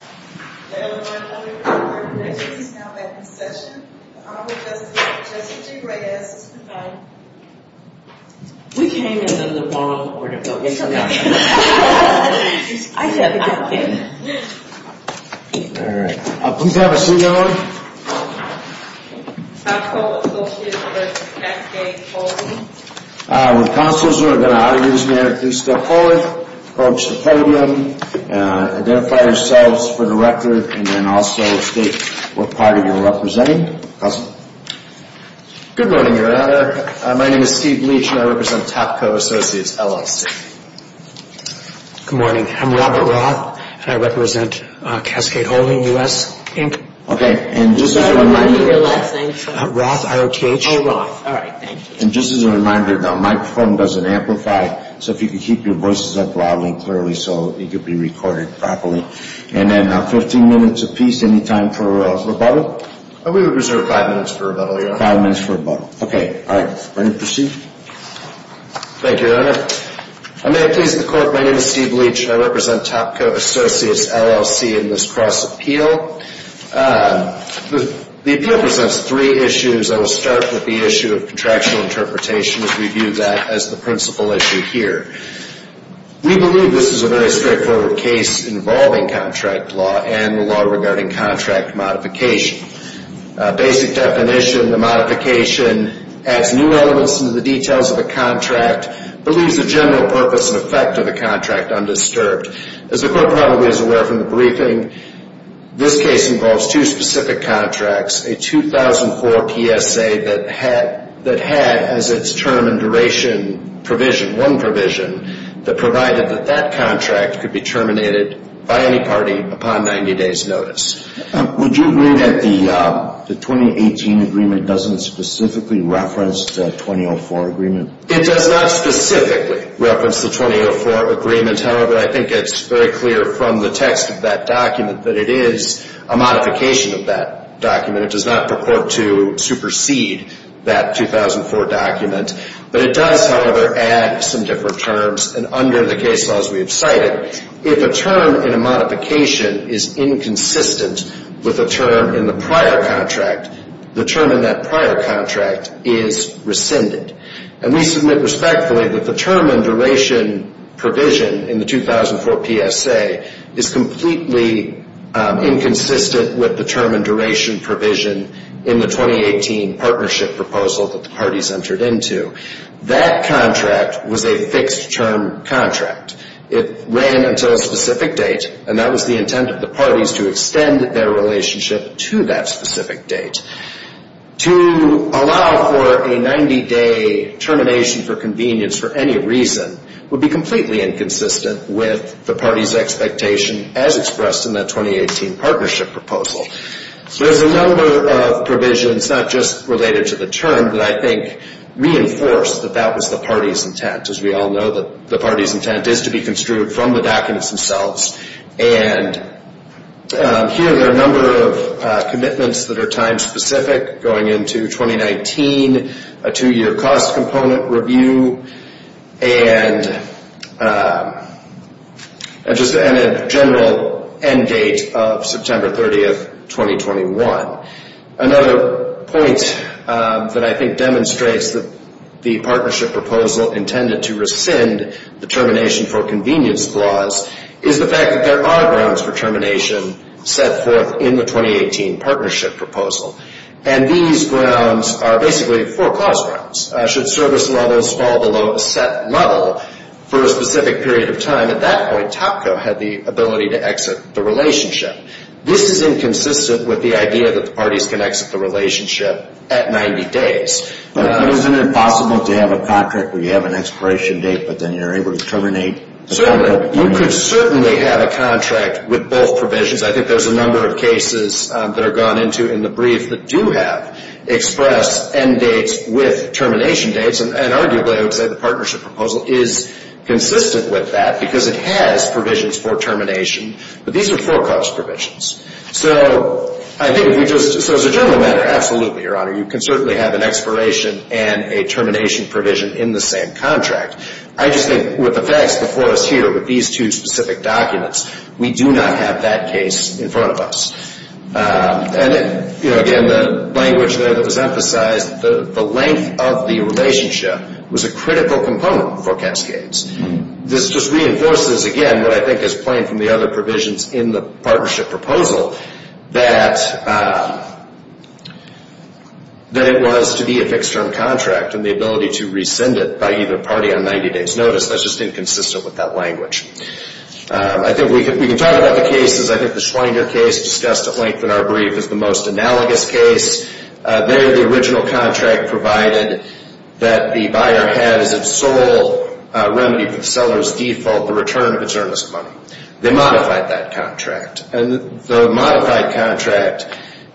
The L.A. Bar Association is now back in session. The Honorable Justice Jesse G. Reyes is confined. We came in the wrong order, but we'll get to that. Please have a seat, Ellen. Cascades Holdings With counsels who are going to honor you as mayor, please step forward. Approach the podium. Identify yourselves for the record, and then also state what party you're representing. Good morning, Your Honor. My name is Steve Leach, and I represent Tapco Associates LLC. Good morning. I'm Robert Roth, and I represent Cascades Holdings US Inc. And just as a reminder, Roth, I-R-O-T-H. Oh, Roth. All right. Thank you. And just as a reminder, the microphone doesn't amplify, so if you could keep your voices up loudly and clearly so it could be recorded properly. And then 15 minutes apiece. Any time for rebuttal? We would reserve five minutes for rebuttal, Your Honor. Five minutes for rebuttal. Okay. All right. Ready to proceed? Thank you, Your Honor. May it please the Court, my name is Steve Leach, and I represent Tapco Associates LLC in this cross-appeal. The appeal presents three issues. I will start with the issue of contractual interpretation as we view that as the principal issue here. We believe this is a very straightforward case involving contract law and the law regarding contract modification. Basic definition, the modification adds new elements into the details of the contract, but leaves the general purpose and effect of the contract undisturbed. As the Court probably is aware from the briefing, this case involves two specific contracts, a 2004 PSA that had as its term and duration provision, one provision, that provided that that contract could be terminated by any party upon 90 days' notice. Would you agree that the 2018 agreement doesn't specifically reference the 2004 agreement? It does not specifically reference the 2004 agreement. However, I think it's very clear from the text of that document that it is a modification of that document. It does not purport to supersede that 2004 document. But it does, however, add some different terms. And under the case laws we have cited, if a term in a modification is inconsistent with a term in the prior contract, the term in that prior contract is rescinded. And we submit respectfully that the term and duration provision in the 2004 PSA is completely inconsistent with the term and duration provision in the 2018 partnership proposal that the parties entered into. That contract was a fixed-term contract. It ran until a specific date, and that was the intent of the parties to extend their relationship to that specific date. To allow for a 90-day termination for convenience for any reason would be completely inconsistent with the parties' expectation as expressed in that 2018 partnership proposal. So there's a number of provisions, not just related to the term, that I think reinforce that that was the parties' intent. As we all know, the parties' intent is to be construed from the documents themselves. And here there are a number of commitments that are time-specific, going into 2019, a two-year cost component review, and a general end date of September 30, 2021. Another point that I think demonstrates that the partnership proposal intended to rescind the termination for convenience clause is the fact that there are grounds for termination set forth in the 2018 partnership proposal. And these grounds are basically four-clause grounds. Should service levels fall below a set level for a specific period of time, at that point, TOPCO had the ability to exit the relationship. This is inconsistent with the idea that the parties can exit the relationship at 90 days. But isn't it possible to have a contract where you have an expiration date, but then you're able to terminate? Certainly. You could certainly have a contract with both provisions. I think there's a number of cases that are gone into in the brief that do have expressed end dates with termination dates. And arguably, I would say the partnership proposal is consistent with that because it has provisions for termination. But these are four-clause provisions. So as a general matter, absolutely, Your Honor. You can certainly have an expiration and a termination provision in the same contract. I just think with the facts before us here with these two specific documents, we do not have that case in front of us. And again, the language that was emphasized, the length of the relationship was a critical component for Capscades. This just reinforces, again, what I think is plain from the other provisions in the partnership proposal, that it was to be a fixed-term contract and the ability to rescind it by either party on 90 days' notice. That's just inconsistent with that language. I think we can talk about the cases. I think the Schweider case discussed at length in our brief is the most analogous case. There, the original contract provided that the buyer has its sole remedy for the seller's default, the return of its earnest money. They modified that contract. And the modified contract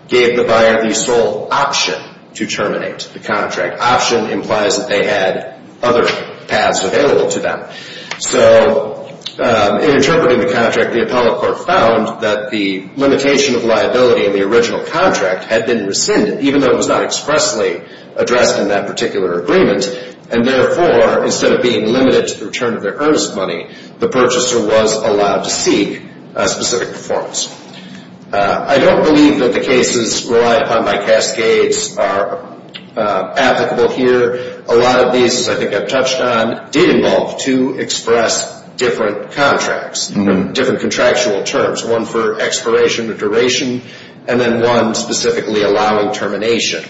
gave the buyer the sole option to terminate the contract. Option implies that they had other paths available to them. So in interpreting the contract, the appellate court found that the limitation of liability in the original contract had been rescinded, even though it was not expressly addressed in that particular agreement. And therefore, instead of being limited to the return of their earnest money, the purchaser was allowed to seek a specific performance. I don't believe that the cases relied upon by Cascades are applicable here. A lot of these, as I think I've touched on, did involve two express different contracts, different contractual terms, one for expiration or duration and then one specifically allowing termination.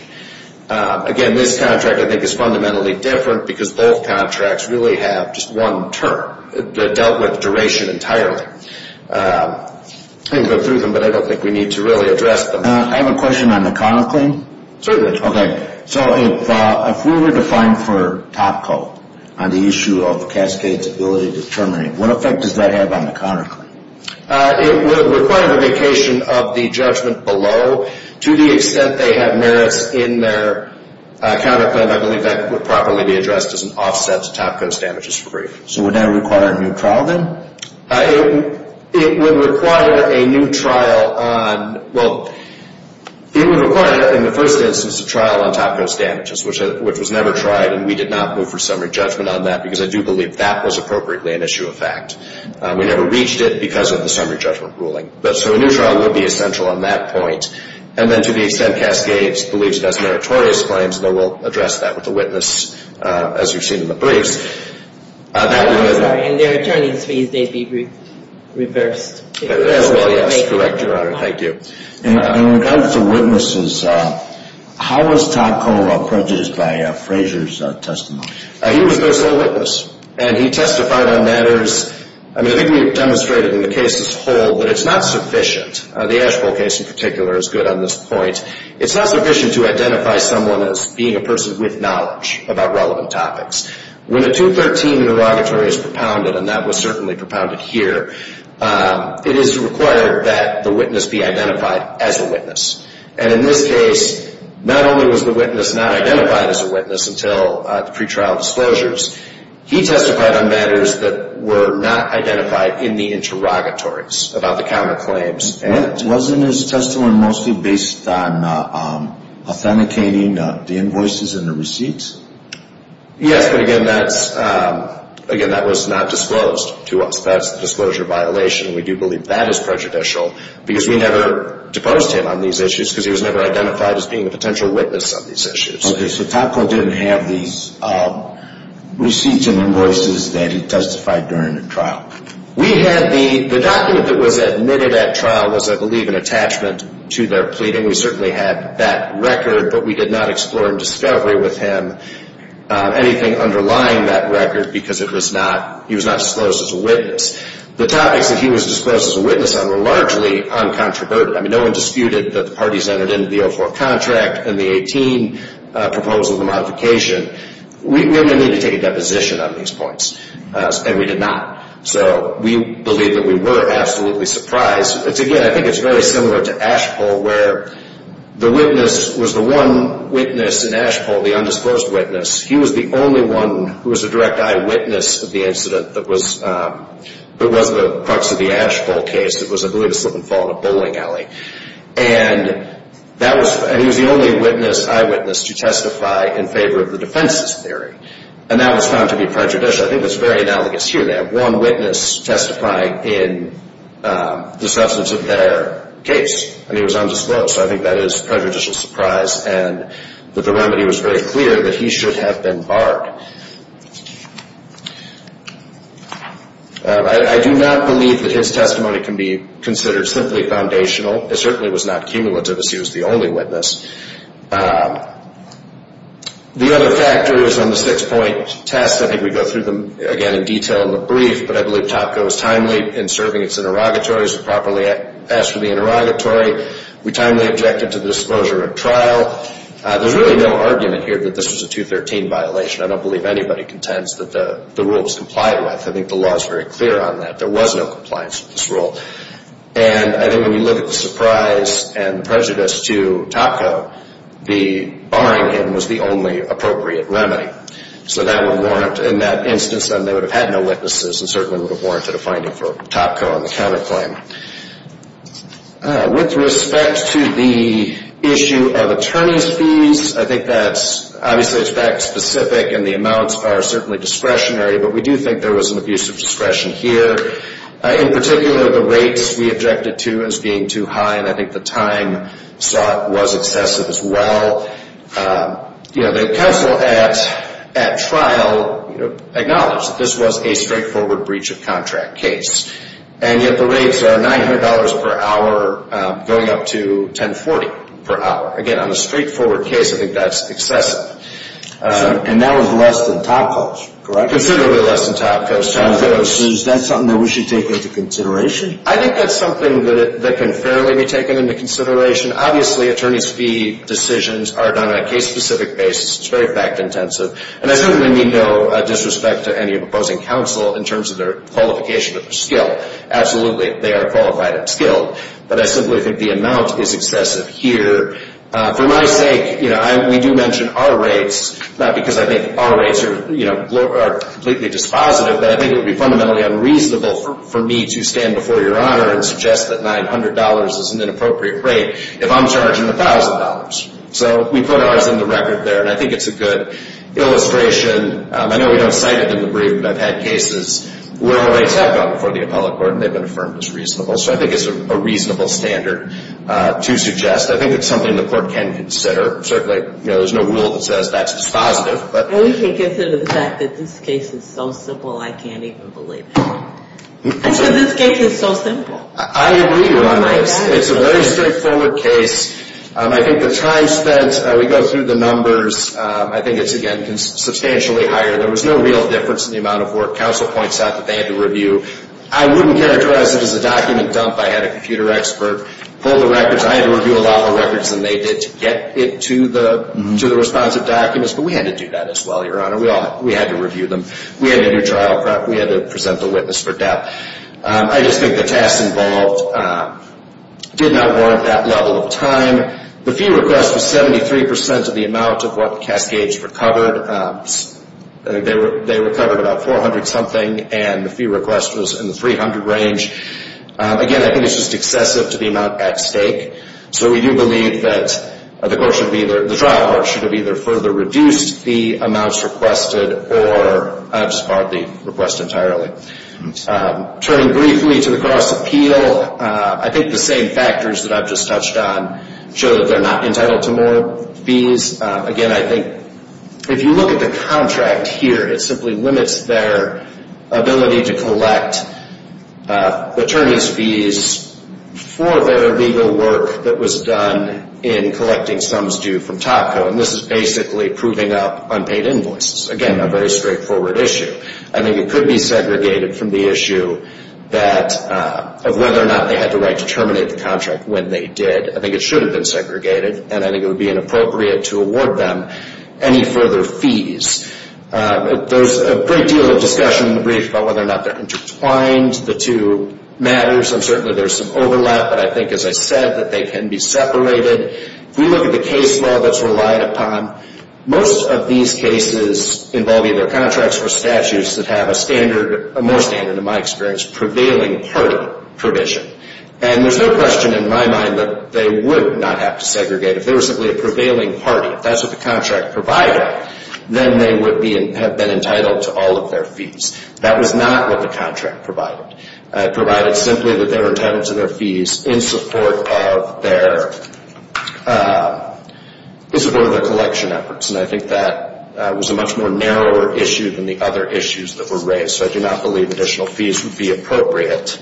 Again, this contract, I think, is fundamentally different because both contracts really have just one term. They're dealt with duration entirely. I can go through them, but I don't think we need to really address them. I have a question on the Conoclaim. Certainly. Okay. So if we were to find for Topco on the issue of Cascades' ability to terminate, what effect does that have on the Conoclaim? It would require the vacation of the judgment below. To the extent they have merits in their Conoclaim, I believe that would probably be addressed as an offset to Topco's damages for brief. So would that require a new trial then? It would require a new trial on – well, it would require in the first instance a trial on Topco's damages, which was never tried, and we did not move for summary judgment on that because I do believe that was appropriately an issue of fact. We never reached it because of the summary judgment ruling. So a new trial would be essential on that point. And then to the extent Cascades believes it has meritorious claims, though we'll address that with the witness as you've seen in the briefs. I'm sorry. In their attorneys' briefs, they'd be reversed. Well, yes. Correct, Your Honor. Thank you. In regards to witnesses, how was Topco prejudiced by Frazier's testimony? He was their sole witness, and he testified on matters – I mean, I think we've demonstrated in the case as a whole, but it's not sufficient – the Asheville case in particular is good on this point. It's not sufficient to identify someone as being a person with knowledge about relevant topics. When a 213 interrogatory is propounded, and that was certainly propounded here, it is required that the witness be identified as a witness. And in this case, not only was the witness not identified as a witness until the pretrial disclosures, he testified on matters that were not identified in the interrogatories about the counterclaims. Wasn't his testimony mostly based on authenticating the invoices and the receipts? Yes, but again, that's – again, that was not disclosed to us. That's the disclosure violation, and we do believe that is prejudicial, because we never deposed him on these issues because he was never identified as being a potential witness on these issues. Okay, so Topco didn't have these receipts and invoices that he testified during the trial. We had the – the document that was admitted at trial was, I believe, an attachment to their pleading. We certainly had that record, but we did not explore in discovery with him anything underlying that record because it was not – he was not disclosed as a witness. The topics that he was disclosed as a witness on were largely uncontroverted. I mean, no one disputed that the parties entered into the 04 contract and the 18 proposal of the modification. We only needed to take a deposition on these points, and we did not. So we believe that we were absolutely surprised. Again, I think it's very similar to Ashpole, where the witness was the one witness in Ashpole, the undisclosed witness. He was the only one who was a direct eyewitness of the incident that was – that wasn't a crux of the Ashpole case that was, I believe, a slip and fall in a bowling alley. And that was – and he was the only witness, eyewitness, to testify in favor of the defense's theory, and that was found to be prejudicial. So I think it's very analogous here. They have one witness testify in the substance of their case, and he was undisclosed. So I think that is prejudicial surprise, and that the remedy was very clear that he should have been barred. I do not believe that his testimony can be considered simply foundational. It certainly was not cumulative, as he was the only witness. The other factor is on the six-point test. I think we go through them, again, in detail in the brief, but I believe Topco is timely in serving its interrogatories and properly asked for the interrogatory. We timely objected to the disclosure of trial. There's really no argument here that this was a 213 violation. I don't believe anybody contends that the rule was complied with. I think the law is very clear on that. There was no compliance with this rule. And I think when you look at the surprise and the prejudice to Topco, the barring him was the only appropriate remedy. So that would warrant, in that instance, then they would have had no witnesses and certainly would have warranted a finding for Topco on the counterclaim. With respect to the issue of attorney's fees, I think that's, obviously, it's fact-specific, and the amounts are certainly discretionary, but we do think there was an abuse of discretion here. In particular, the rates we objected to as being too high, and I think the time slot was excessive as well. The counsel at trial acknowledged that this was a straightforward breach of contract case, and yet the rates are $900 per hour going up to $1040 per hour. Again, on a straightforward case, I think that's excessive. And that was less than Topco's, correct? Considerably less than Topco's. Is that something that we should take into consideration? I think that's something that can fairly be taken into consideration. Obviously, attorney's fee decisions are done on a case-specific basis. It's very fact-intensive. And I certainly mean no disrespect to any opposing counsel in terms of their qualification or skill. Absolutely, they are qualified and skilled. But I simply think the amount is excessive here. For my sake, we do mention our rates, not because I think our rates are completely dispositive, but I think it would be fundamentally unreasonable for me to stand before Your Honor and suggest that $900 is an inappropriate rate if I'm charging $1,000. So we put ours in the record there, and I think it's a good illustration. I know we don't cite it in the brief, but I've had cases where our rates have gone before the appellate court and they've been affirmed as reasonable. So I think it's a reasonable standard to suggest. I think it's something the court can consider. Certainly, you know, there's no rule that says that's dispositive. And we can consider the fact that this case is so simple, I can't even believe it. Because this case is so simple. I agree, Your Honor. It's a very straightforward case. I think the time spent, we go through the numbers, I think it's, again, substantially higher. There was no real difference in the amount of work counsel points out that they had to review. I wouldn't characterize it as a document dump. I had a computer expert pull the records. I had to review a lot more records than they did to get it to the responsive documents. But we had to do that as well, Your Honor. We had to review them. We had to do trial prep. We had to present the witness for depth. I just think the tasks involved did not warrant that level of time. The fee request was 73% of the amount of what the Cascades recovered. They recovered about 400-something, and the fee request was in the 300 range. Again, I think it's just excessive to the amount at stake. So we do believe that the trial court should have either further reduced the amounts requested or just partly request entirely. Turning briefly to the cross-appeal, I think the same factors that I've just touched on show that they're not entitled to more fees. Again, I think if you look at the contract here, it simply limits their ability to collect attorney's fees for their legal work that was done in collecting sums due from TACO. And this is basically proving up unpaid invoices. Again, a very straightforward issue. I think it could be segregated from the issue of whether or not they had the right to terminate the contract when they did. I think it should have been segregated, and I think it would be inappropriate to award them any further fees. There's a great deal of discussion in the brief about whether or not they're intertwined. The two matters, and certainly there's some overlap, but I think, as I said, that they can be separated. If we look at the case law that's relied upon, most of these cases involve either contracts or statutes that have a more standard, in my experience, prevailing party provision. And there's no question in my mind that they would not have to segregate. If they were simply a prevailing party, if that's what the contract provided, then they would have been entitled to all of their fees. That was not what the contract provided. It provided simply that they were entitled to their fees in support of their collection efforts, and I think that was a much more narrower issue than the other issues that were raised, so I do not believe additional fees would be appropriate.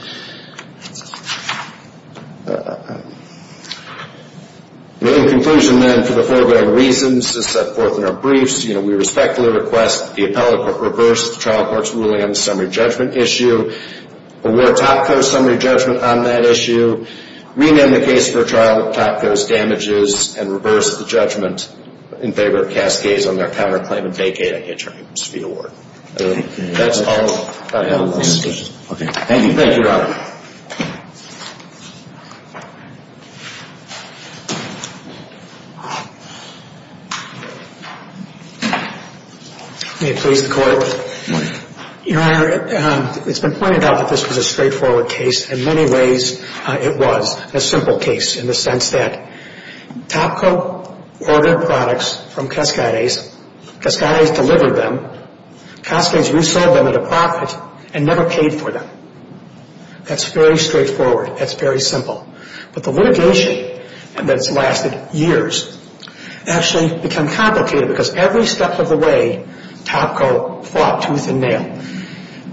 In conclusion, then, for the foregoing reasons set forth in our briefs, we respectfully request that the appellate court reverse the trial court's ruling on the summary judgment issue, award Topco's summary judgment on that issue, rename the case for a trial with Topco's damages, and reverse the judgment in favor of Cascades on their counterclaim and vacate any terms for the award. That's all I have on this. Thank you. Thank you, Robert. May it please the Court. Your Honor, it's been pointed out that this was a straightforward case. In many ways, it was a simple case in the sense that Topco ordered products from Cascades. Cascades delivered them. Cascades resold them at a profit and never paid for them. That's very straightforward. That's very simple. But the litigation that's lasted years actually became complicated because every step of the way, Topco fought tooth and nail.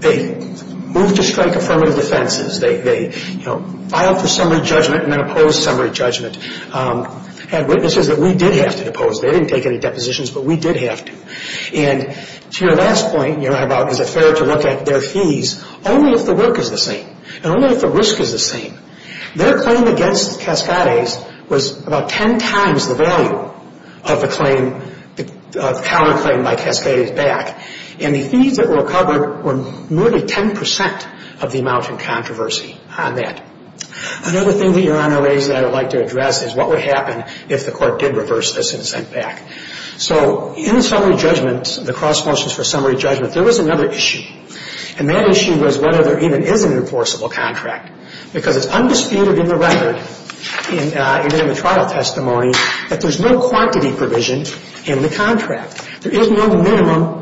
They moved to strike affirmative defenses. They filed for summary judgment and then opposed summary judgment. They had witnesses that we did have to depose. They didn't take any depositions, but we did have to. And to your last point about is it fair to look at their fees, only if the work is the same and only if the risk is the same. Their claim against Cascades was about ten times the value of the claim, the counterclaim by Cascades back. And the fees that were covered were nearly ten percent of the amount in controversy on that. Another thing that Your Honor raised that I would like to address is what would happen if the court did reverse this and sent back. So in summary judgment, the cross motions for summary judgment, there was another issue. And that issue was whether there even is an enforceable contract. Because it's undisputed in the record, even in the trial testimony, that there's no quantity provision in the contract. There is no minimum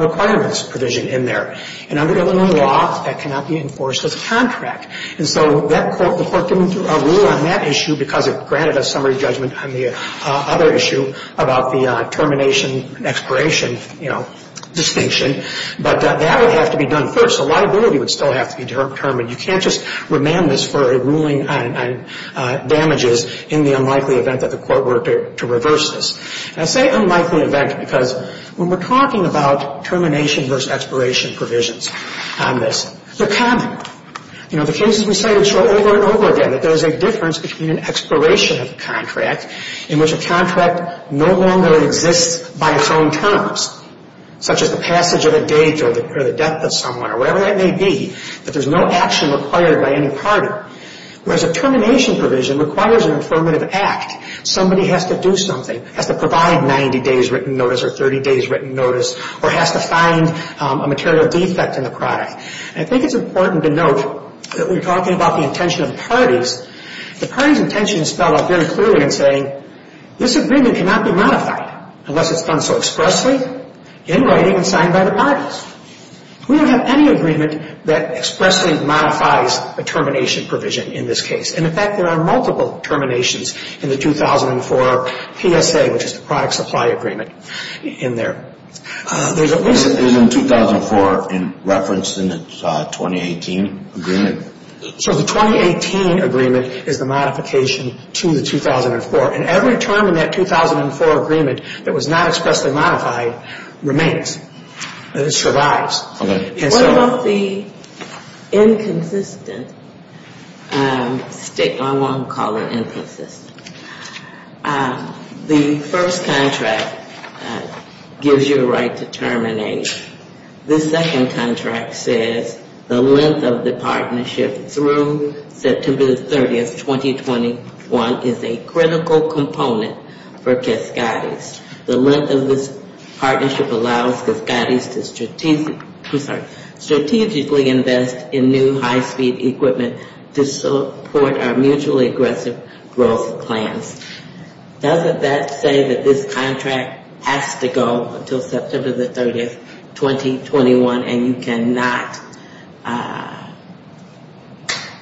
requirements provision in there. And under Illinois law, that cannot be enforced as a contract. And so that court, the court came through a rule on that issue because it granted us summary judgment on the other issue about the termination, expiration, you know, distinction. But that would have to be done first. So liability would still have to be determined. You can't just remand this for a ruling on damages in the unlikely event that the court were to reverse this. And I say unlikely event because when we're talking about termination versus expiration provisions on this, they're common. You know, the cases we cited show over and over again that there's a difference between an expiration of the contract in which a contract no longer exists by its own terms, such as the passage of a date or the death of someone or whatever that may be, that there's no action required by any party. Whereas a termination provision requires an affirmative act. Somebody has to do something, has to provide 90 days written notice or 30 days written notice or has to find a material defect in the product. And I think it's important to note that we're talking about the intention of parties. The party's intention is spelled out very clearly in saying this agreement cannot be modified unless it's done so expressly, in writing, and signed by the parties. We don't have any agreement that expressly modifies a termination provision in this case. And, in fact, there are multiple terminations in the 2004 PSA, which is the product supply agreement in there. Is the 2004 referenced in the 2018 agreement? So the 2018 agreement is the modification to the 2004. And every term in that 2004 agreement that was not expressly modified remains. It survives. Okay. What about the inconsistent state law? I'm going to call it inconsistent. The first contract gives you a right to terminate. The second contract says the length of the partnership through September 30, 2021, is a critical component for Cascades. The length of this partnership allows Cascades to strategically invest in new high-speed equipment to support our mutually aggressive growth plans. Doesn't that say that this contract has to go until September 30, 2021, and you cannot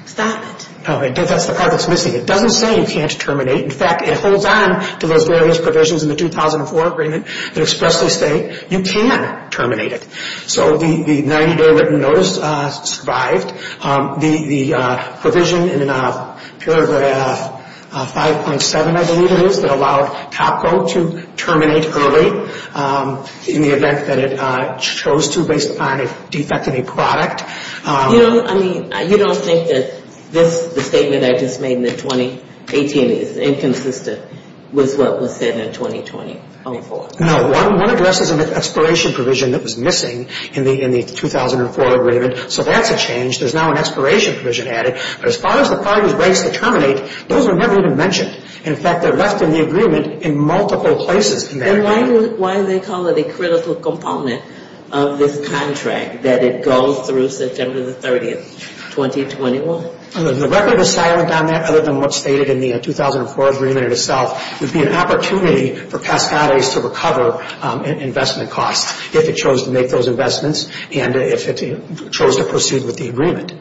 stop it? That's the part that's missing. It doesn't say you can't terminate. In fact, it holds on to those various provisions in the 2004 agreement that expressly say you can terminate it. So the 90-day written notice survived. The provision in paragraph 5.7, I believe it is, that allowed Topco to terminate early in the event that it chose to based upon a defect in a product. You don't think that the statement I just made in the 2018 is inconsistent with what was said in 2020-04? No. One address is an expiration provision that was missing in the 2004 agreement. So that's a change. There's now an expiration provision added. But as far as the parties' rights to terminate, those were never even mentioned. In fact, they're left in the agreement in multiple places in that agreement. Then why do they call it a critical component of this contract that it goes through September 30, 2021? The record is silent on that other than what's stated in the 2004 agreement itself. It would be an opportunity for Cascades to recover investment costs if it chose to make those investments and if it chose to proceed with the agreement.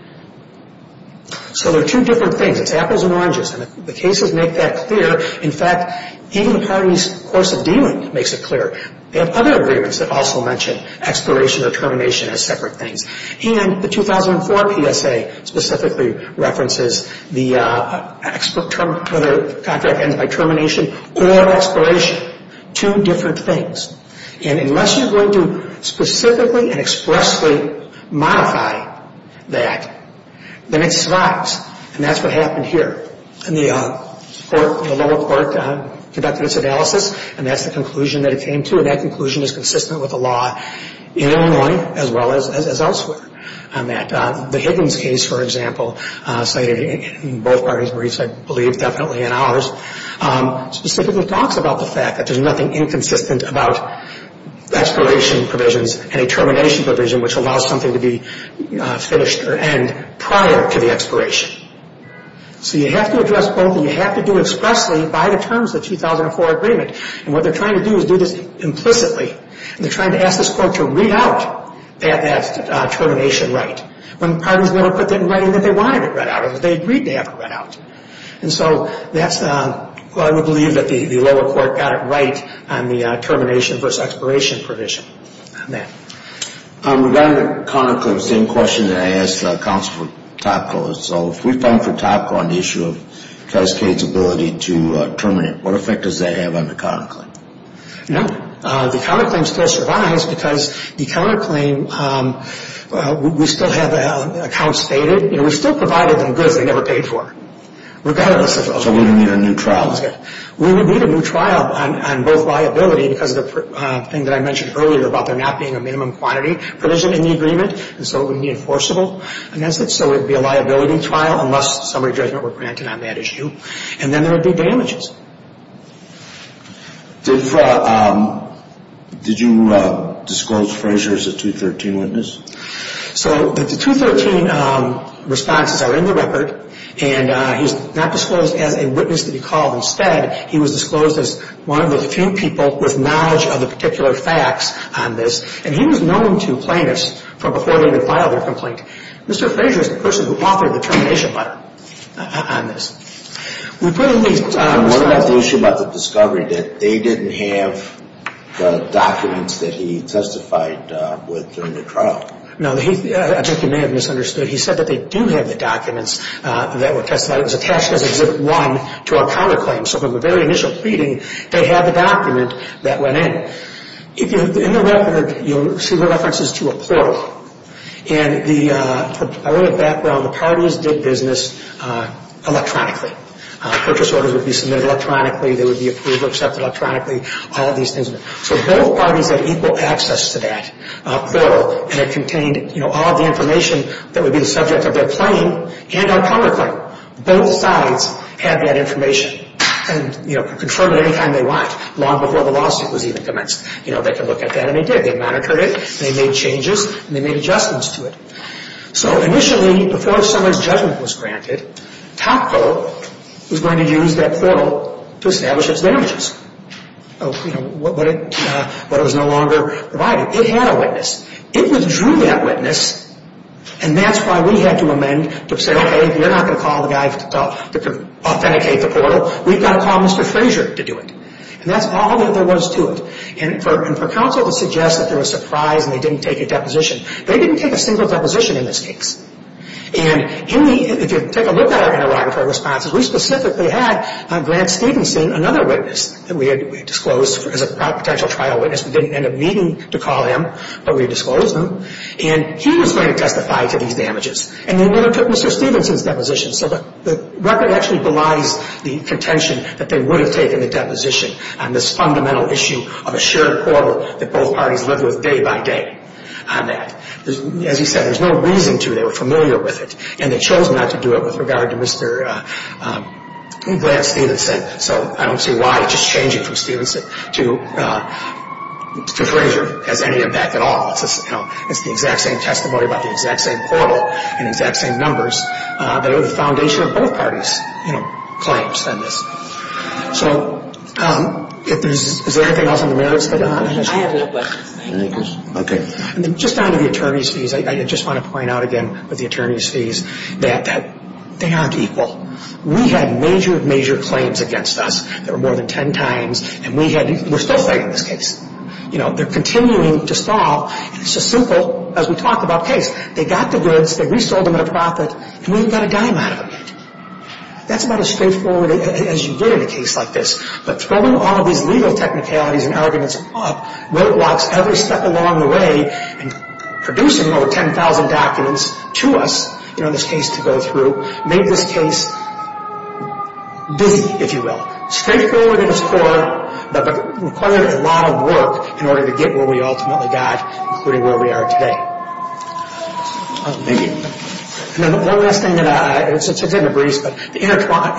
So there are two different things. It's apples and oranges. And the cases make that clear. In fact, even the parties' course of dealing makes it clear. They have other agreements that also mention expiration or termination as separate things. And the 2004 PSA specifically references the contract ends by termination or expiration. Two different things. And unless you're going to specifically and expressly modify that, then it survives. And that's what happened here. And the lower court conducted its analysis, and that's the conclusion that it came to. And that conclusion is consistent with the law in Illinois as well as elsewhere on that. The Higgins case, for example, cited in both parties' briefs, I believe definitely in ours, specifically talks about the fact that there's nothing inconsistent about expiration provisions and a termination provision which allows something to be finished or end prior to the expiration. So you have to address both, and you have to do expressly by the terms of the 2004 agreement. And what they're trying to do is do this implicitly. They're trying to ask this court to read out that termination right when the parties never put that in writing that they wanted it read out. They agreed to have it read out. And so that's what I would believe that the lower court got it right on the termination versus expiration provision on that. Regarding the counterclaim, same question that I asked Counselor Topko. So if we fund for Topko on the issue of Cascade's ability to terminate, what effect does that have on the counterclaim? The counterclaim still survives because the counterclaim, we still have accounts faded. We still provided them goods they never paid for. So we're going to need a new trial. We would need a new trial on both liability because of the thing that I mentioned earlier about there not being a minimum quantity provision in the agreement, and so it wouldn't be enforceable against it. So it would be a liability trial unless summary judgment were granted on that issue. And then there would be damages. Did you disclose Frazier as a 213 witness? So the 213 responses are in the record. And he's not disclosed as a witness to be called. Instead, he was disclosed as one of the few people with knowledge of the particular facts on this. And he was known to plaintiffs from before they even filed their complaint. Mr. Frazier is the person who authored the termination letter on this. What about the issue about the discovery that they didn't have the documents that he testified with during the trial? Now, I think you may have misunderstood. He said that they do have the documents that were testified. It was attached as Exhibit 1 to our counterclaim. So from the very initial pleading, they had the document that went in. In the record, you'll see the references to a portal. And I wrote a background. The parties did business electronically. Purchase orders would be submitted electronically. They would be approved or accepted electronically. So both parties had equal access to that portal. And it contained all of the information that would be the subject of their claim and our counterclaim. Both sides had that information and could confirm it any time they want, long before the lawsuit was even commenced. They could look at that, and they did. They monitored it. They made changes. And they made adjustments to it. So initially, before someone's judgment was granted, Topco was going to use that portal to establish its damages. But it was no longer provided. It had a witness. It withdrew that witness, and that's why we had to amend to say, okay, you're not going to call the guy to authenticate the portal. We've got to call Mr. Frazier to do it. And that's all that there was to it. And for counsel to suggest that they were surprised and they didn't take a deposition, they didn't take a single deposition in this case. And if you take a look at our interrogatory responses, we specifically had Grant Stevenson, another witness, that we had disclosed as a potential trial witness. We didn't end up needing to call him, but we disclosed him. And he was going to testify to these damages. And then they took Mr. Stevenson's deposition. So the record actually belies the contention that they would have taken a deposition on this fundamental issue of a shared portal that both parties lived with day by day on that. As he said, there's no reason to. They were familiar with it. And they chose not to do it with regard to Mr. Grant Stevenson. So I don't see why just changing from Stevenson to Frazier has any impact at all. It's the exact same testimony about the exact same portal and exact same numbers. But it was the foundation of both parties' claims on this. So is there anything else on the merits? I have no questions. Okay. And then just down to the attorney's fees. I just want to point out again with the attorney's fees that they aren't equal. We had major, major claims against us. There were more than ten times. And we're still fighting this case. You know, they're continuing to stall. It's as simple as we talk about case. They got the goods. They resold them at a profit. And we even got a dime out of it. That's about as straightforward as you get in a case like this. But throwing all of these legal technicalities and arguments up roadblocks every step along the way and producing over 10,000 documents to us, you know, this case to go through, made this case busy, if you will. Straightforward at its core, but required a lot of work in order to get where we ultimately got, including where we are today. Thank you. One last thing. It's in the briefs, but the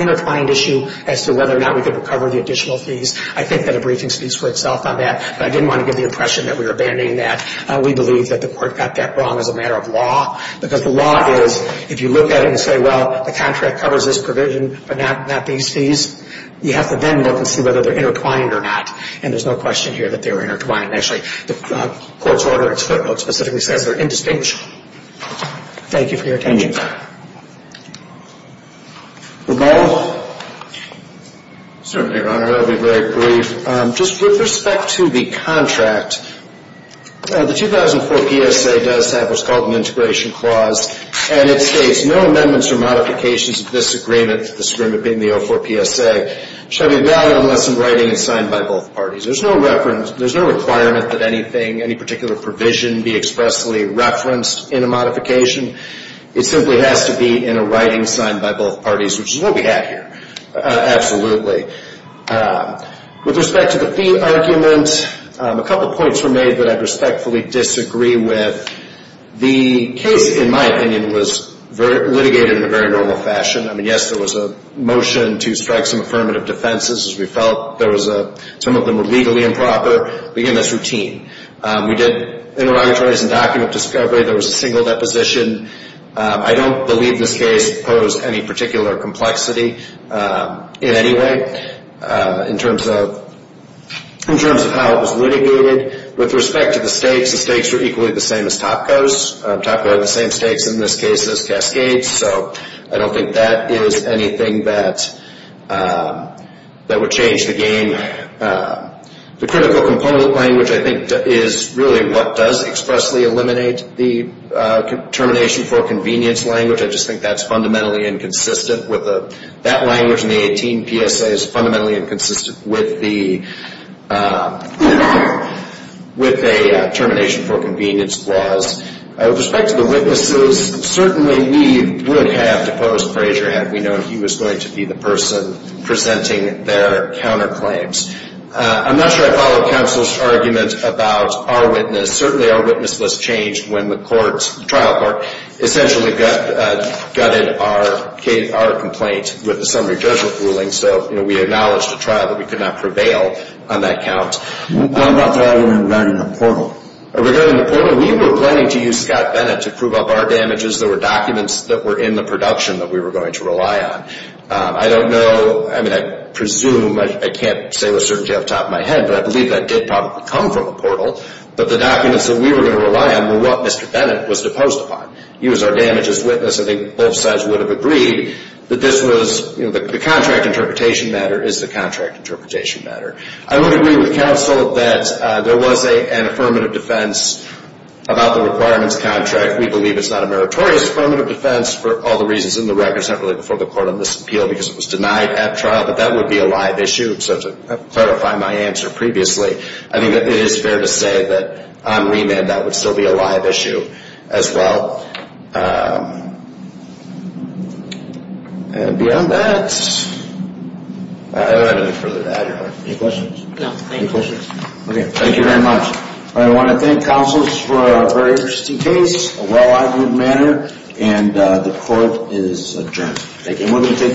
intertwined issue as to whether or not we could recover the additional fees, I think that a briefing speaks for itself on that. But I didn't want to give the impression that we were abandoning that. We believe that the court got that wrong as a matter of law. Because the law is, if you look at it and say, well, the contract covers this provision but not these fees, you have to then look and see whether they're intertwined or not. And there's no question here that they were intertwined. Actually, the court's order specifically says they're indistinguishable. Thank you for your attention. Ramal? Certainly, Your Honor. I'll be very brief. Just with respect to the contract, the 2004 PSA does have what's called an integration clause, and it states no amendments or modifications of this agreement, this agreement being the 04 PSA, shall be valid unless in writing and signed by both parties. There's no requirement that anything, any particular provision be expressly referenced in a modification. It simply has to be in a writing signed by both parties, which is what we have here, absolutely. With respect to the fee argument, a couple points were made that I'd respectfully disagree with. The case, in my opinion, was litigated in a very normal fashion. I mean, yes, there was a motion to strike some affirmative defenses. We felt some of them were legally improper. Again, that's routine. We did interrogatories and document discovery. There was a single deposition. I don't believe this case posed any particular complexity in any way in terms of how it was litigated. With respect to the stakes, the stakes were equally the same as Topco's. Topco had the same stakes in this case as Cascade's, so I don't think that is anything that would change the game. The critical component language, I think, is really what does expressly eliminate the termination for convenience language. I just think that's fundamentally inconsistent. That language in the 18 PSA is fundamentally inconsistent with the termination for convenience clause. With respect to the witnesses, certainly we would have deposed Frazier had we known he was going to be the person presenting their counterclaims. I'm not sure I follow counsel's argument about our witness. Certainly our witness list changed when the trial court essentially gutted our complaint with the summary judgment ruling, so we acknowledged at trial that we could not prevail on that count. What about the argument regarding the portal? Regarding the portal, we were planning to use Scott Bennett to prove up our damages. There were documents that were in the production that we were going to rely on. I don't know. I mean, I presume. I can't say with certainty off the top of my head, but I believe that did probably come from the portal, but the documents that we were going to rely on were what Mr. Bennett was deposed upon. He was our damages witness. I think both sides would have agreed that this was the contract interpretation matter is the contract interpretation matter. I would agree with counsel that there was an affirmative defense about the requirements contract. We believe it's not a meritorious affirmative defense for all the reasons in the record. It's not really before the court on this appeal because it was denied at trial, but that would be a live issue. So to clarify my answer previously, I think that it is fair to say that on remand that would still be a live issue as well. And beyond that, I don't have anything further to add. Any questions? No, thank you. Any questions? Okay. Thank you very much. I want to thank counsels for a very interesting case, a well-argued matter, and the court is adjourned. Thank you. And we're going to take questions.